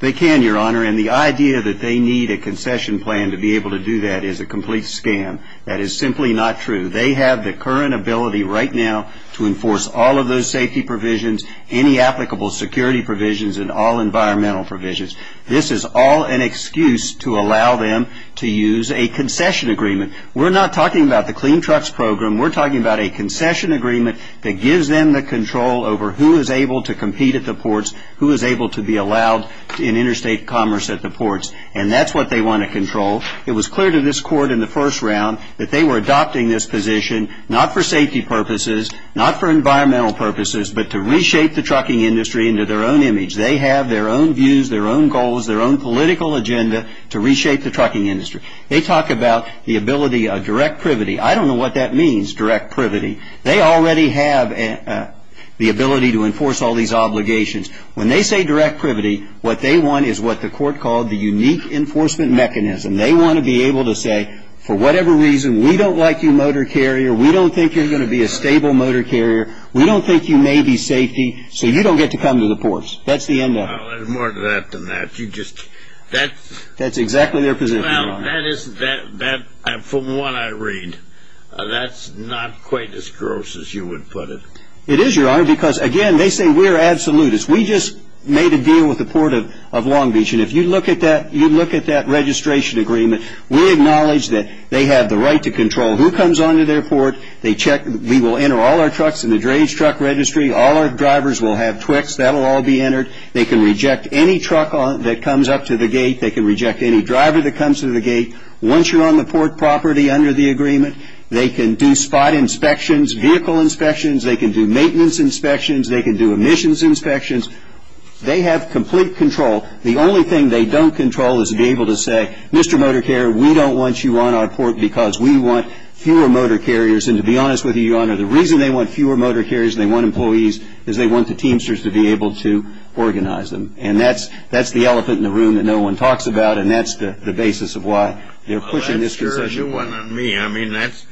They can, Your Honor, and the idea that they need a concession plan to be able to do that is a complete scam. That is simply not true. They have the current ability right now to enforce all of those safety provisions, any applicable security provisions, and all environmental provisions. This is all an excuse to allow them to use a concession agreement. We're not talking about the Clean Trucks Program. We're talking about a concession agreement that gives them the control over who is able to compete at the ports, who is able to be allowed in interstate commerce at the ports, and that's what they want to control. It was clear to this Court in the first round that they were adopting this position not for safety purposes, not for environmental purposes, but to reshape the trucking industry into their own image. They have their own views, their own goals, their own political agenda to reshape the trucking industry. They talk about the ability of direct privity. I don't know what that means, direct privity. They already have the ability to enforce all these obligations. When they say direct privity, what they want is what the Court called the unique enforcement mechanism. They want to be able to say, for whatever reason, we don't like you, motor carrier. We don't think you're going to be a stable motor carrier. We don't think you may be safety, so you don't get to come to the ports. That's the end of it. Well, there's more to that than that. That's exactly their position, Your Honor. Well, from what I read, that's not quite as gross as you would put it. It is, Your Honor, because, again, they say we're absolutists. We just made a deal with the Port of Long Beach, and if you look at that registration agreement, we acknowledge that they have the right to control who comes onto their port. We will enter all our trucks in the Drage Truck Registry. All our drivers will have TWIX. That will all be entered. They can reject any truck that comes up to the gate. They can reject any driver that comes to the gate. Once you're on the port property under the agreement, they can do spot inspections, vehicle inspections. They can do maintenance inspections. They can do emissions inspections. They have complete control. The only thing they don't control is to be able to say, Mr. Motor Carrier, we don't want you on our port because we want fewer motor carriers. And to be honest with you, Your Honor, the reason they want fewer motor carriers and they want employees is they want the Teamsters to be able to organize them. And that's the elephant in the room that no one talks about, and that's the basis of why they're pushing this concession point. Well, that's certainly one on me. I mean, that's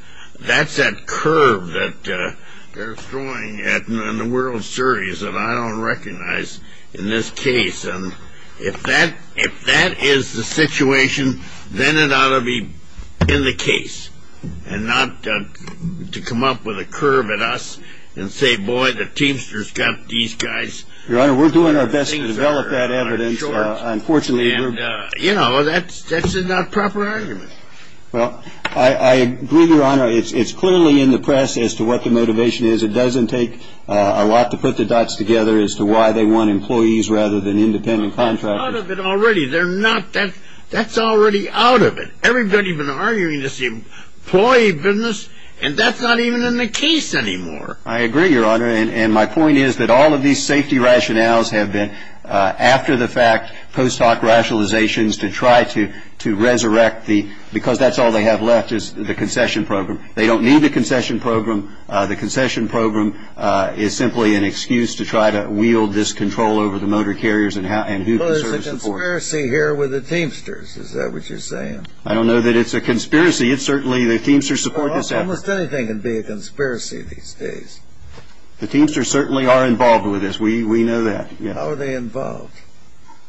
that curve that they're throwing in the World Series that I don't recognize in this case. And if that is the situation, then it ought to be in the case and not to come up with a curve at us and say, boy, the Teamsters got these guys. Your Honor, we're doing our best to develop that evidence. Unfortunately, we're going to. And, you know, that's not a proper argument. Well, I agree, Your Honor. It's clearly in the press as to what the motivation is. It doesn't take a lot to put the dots together as to why they want employees rather than independent contractors. They're out of it already. They're not. That's already out of it. Everybody's been arguing this employee business, and that's not even in the case anymore. I agree, Your Honor. And my point is that all of these safety rationales have been after-the-fact post-hoc rationalizations to try to resurrect the – because that's all they have left is the concession program. They don't need the concession program. The concession program is simply an excuse to try to wield this control over the motor carriers and who preserves the port. Well, there's a conspiracy here with the Teamsters. Is that what you're saying? I don't know that it's a conspiracy. It's certainly – the Teamsters support this effort. Almost anything can be a conspiracy these days. The Teamsters certainly are involved with this. We know that. How are they involved?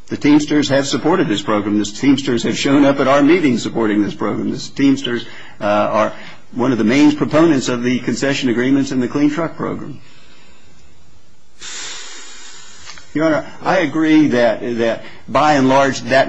The Teamsters have supported this program. The Teamsters have shown up at our meetings supporting this program. The Teamsters are one of the main proponents of the concession agreements and the clean truck program. Your Honor, I agree that, by and large, that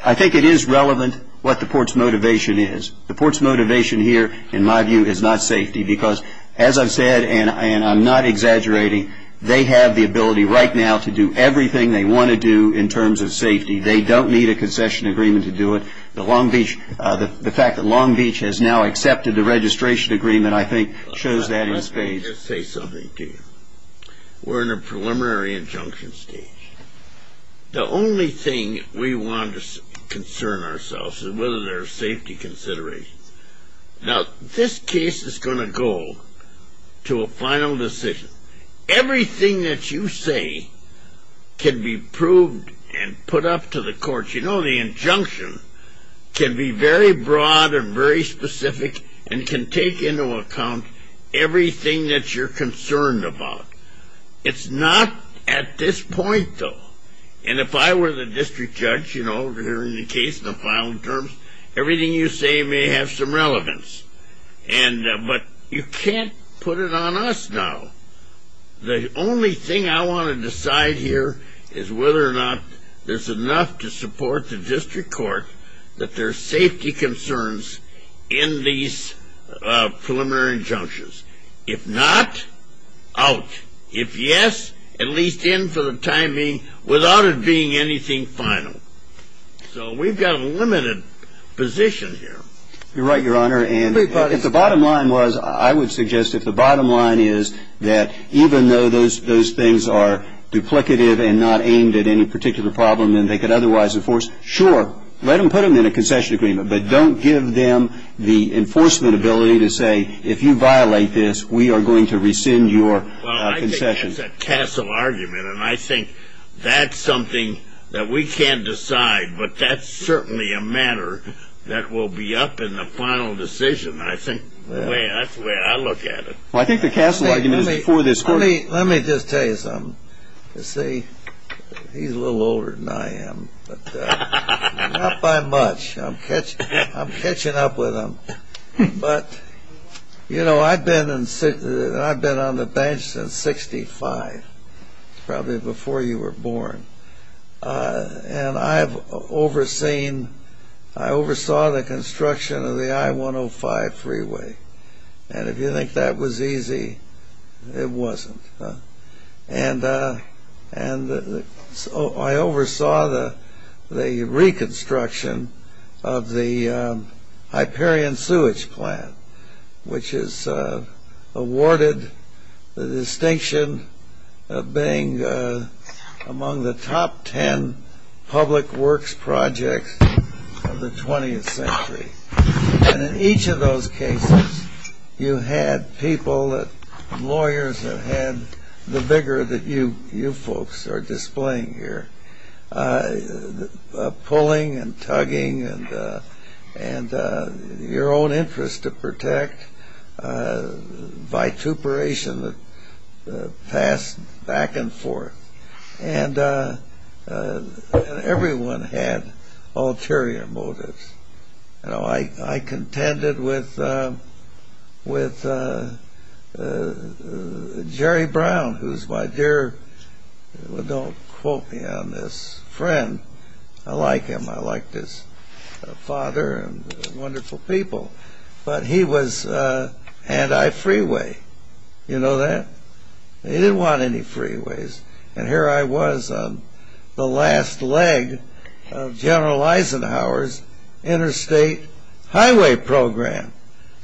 – I think it is relevant what the port's motivation is. The port's motivation here, in my view, is not safety because, as I've said, and I'm not exaggerating, they have the ability right now to do everything they want to do in terms of safety. They don't need a concession agreement to do it. The fact that Long Beach has now accepted the registration agreement, I think, shows that in spades. Let me just say something to you. We're in a preliminary injunction stage. The only thing we want to concern ourselves with is whether there are safety considerations. Now, this case is going to go to a final decision. Everything that you say can be proved and put up to the courts. But, you know, the injunction can be very broad and very specific and can take into account everything that you're concerned about. It's not at this point, though. And if I were the district judge, you know, hearing the case in the final terms, everything you say may have some relevance. But you can't put it on us now. The only thing I want to decide here is whether or not there's enough to support the district court that there's safety concerns in these preliminary injunctions. If not, out. If yes, at least in for the time being without it being anything final. So we've got a limited position here. You're right, Your Honor. If the bottom line was, I would suggest if the bottom line is that even though those things are duplicative and not aimed at any particular problem and they could otherwise enforce, sure, let them put them in a concession agreement. But don't give them the enforcement ability to say if you violate this, we are going to rescind your concession. Well, I think that's a castle argument. And I think that's something that we can't decide. But that's certainly a matter that will be up in the final decision. I think that's the way I look at it. Well, I think the castle argument is before this court. Let me just tell you something. You see, he's a little older than I am, but not by much. I'm catching up with him. But, you know, I've been on the bench since 65, probably before you were born. And I have overseen, I oversaw the construction of the I-105 freeway. And if you think that was easy, it wasn't. And I oversaw the reconstruction of the Hyperion sewage plant, which is awarded the distinction of being among the top ten public works projects of the 20th century. And in each of those cases, you had people, lawyers, that had the vigor that you folks are displaying here, pulling and tugging and your own interest to protect, vituperation that passed back and forth. And everyone had ulterior motives. You know, I contended with Jerry Brown, who's my dear, don't quote me on this, friend. I like him. I like his father and wonderful people. But he was anti-freeway. You know that? He didn't want any freeways. And here I was on the last leg of General Eisenhower's interstate highway program.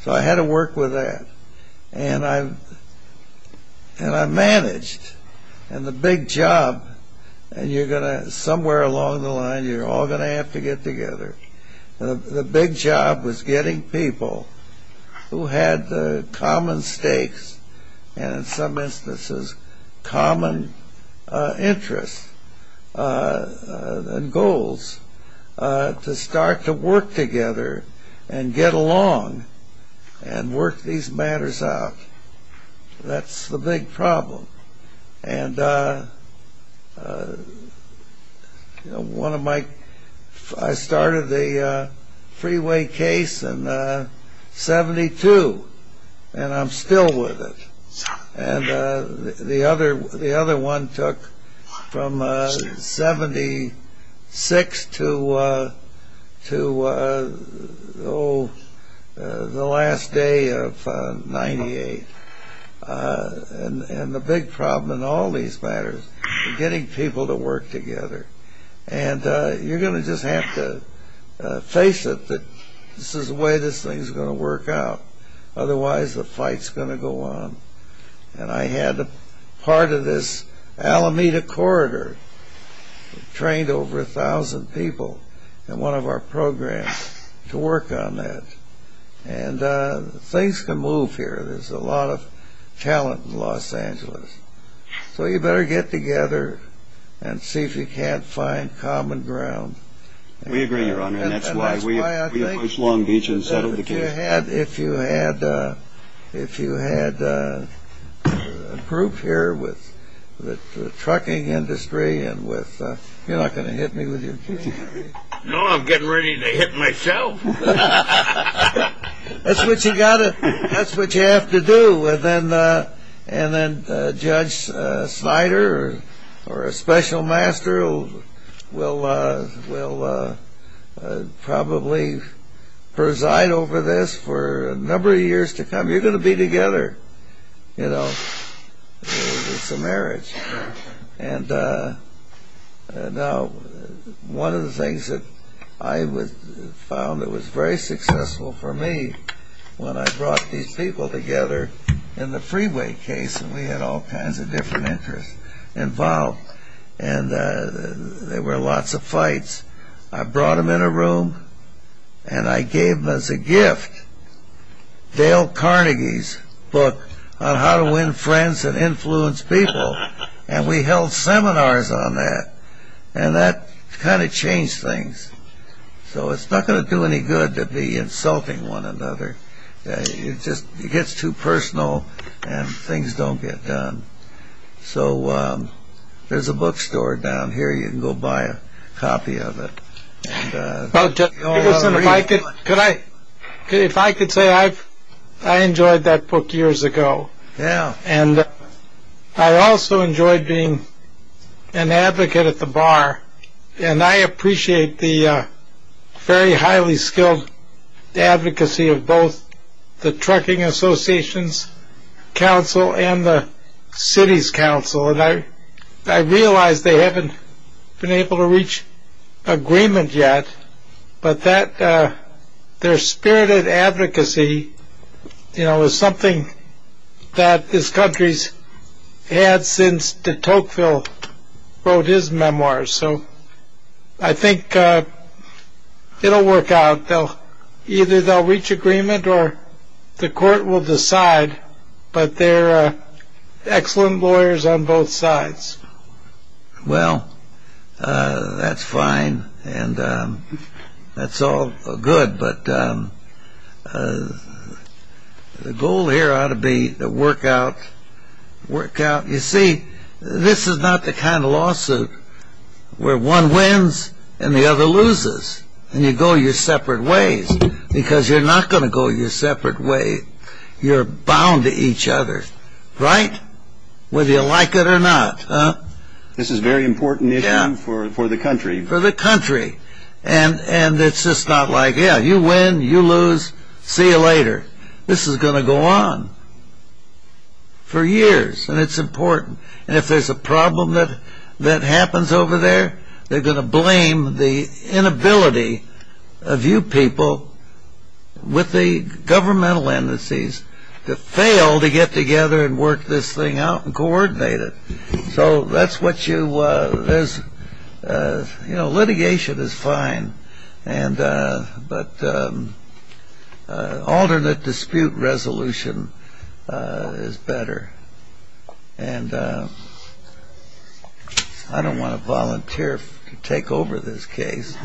So I had to work with that. And I managed. And the big job, and you're going to, somewhere along the line, you're all going to have to get together. The big job was getting people who had the common stakes and in some instances common interests and goals to start to work together and get along and work these matters out. That's the big problem. And I started the freeway case in 72, and I'm still with it. And the other one took from 76 to the last day of 98. And the big problem in all these matters is getting people to work together. And you're going to just have to face it that this is the way this thing is going to work out. Otherwise, the fight's going to go on. And I had part of this Alameda corridor trained over a thousand people in one of our programs to work on that. And things can move here. There's a lot of talent in Los Angeles. So you better get together and see if you can't find common ground. We agree, Your Honor, and that's why we approached Long Beach and settled the case. If you had a group here with the trucking industry, you're not going to hit me with your cane, are you? No, I'm getting ready to hit myself. That's what you have to do. And then Judge Snyder or a special master will probably preside over this for a number of years to come. You're going to be together, you know. It's a marriage. And now one of the things that I found that was very successful for me when I brought these people together in the freeway case, and we had all kinds of different interests involved, and there were lots of fights. I brought them in a room, and I gave them as a gift Dale Carnegie's book on how to win friends and influence people, and we held seminars on that. And that kind of changed things. So it's not going to do any good to be insulting one another. It gets too personal, and things don't get done. So there's a bookstore down here. You can go buy a copy of it. If I could say, I enjoyed that book years ago, and I also enjoyed being an advocate at the bar, and I appreciate the very highly skilled advocacy of both the Trucking Association's council and the city's council. I realize they haven't been able to reach agreement yet, but their spirited advocacy is something that this country's had since de Tocqueville wrote his memoirs. So I think it'll work out. Either they'll reach agreement or the court will decide, but they're excellent lawyers on both sides. Well, that's fine, and that's all good, but the goal here ought to be to work out. You see, this is not the kind of lawsuit where one wins and the other loses, and you go your separate ways, because you're not going to go your separate way. You're bound to each other, right? Whether you like it or not. This is a very important issue for the country. For the country. And it's just not like, yeah, you win, you lose, see you later. This is going to go on for years, and it's important. And if there's a problem that happens over there, they're going to blame the inability of you people with the governmental indices to fail to get together and work this thing out and coordinate it. So that's what you, you know, litigation is fine, but alternate dispute resolution is better. And I don't want to volunteer to take over this case.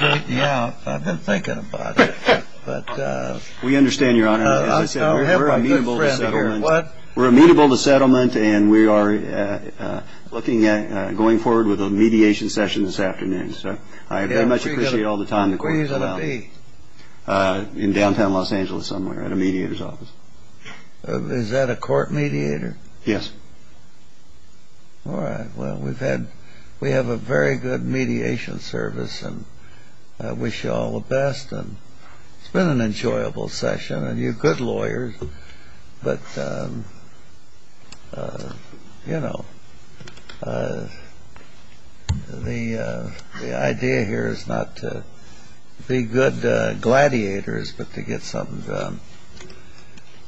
Yeah, I've been thinking about it. We understand, Your Honor. As I said, we're amenable to settlement. We're amenable to settlement, and we are looking at going forward with a mediation session this afternoon. So I very much appreciate all the time the court has allowed. Where are you going to be? In downtown Los Angeles somewhere at a mediator's office. Is that a court mediator? Yes. All right. Well, we have a very good mediation service, and I wish you all the best. And it's been an enjoyable session, and you're good lawyers. But, you know, the idea here is not to be good gladiators but to get something done.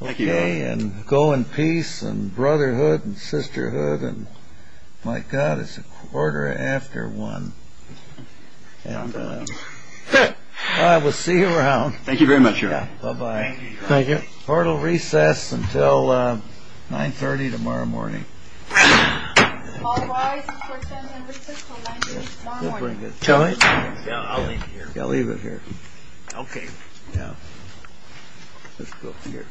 Thank you, Your Honor. And go in peace and brotherhood and sisterhood. And, my God, it's a quarter after 1. And I will see you around. Thank you very much, Your Honor. Bye-bye. Thank you. Court will recess until 930 tomorrow morning. All rise for 10 minutes until 930 tomorrow morning. I'll leave it here. Okay. Yeah. Let's go up here. All right.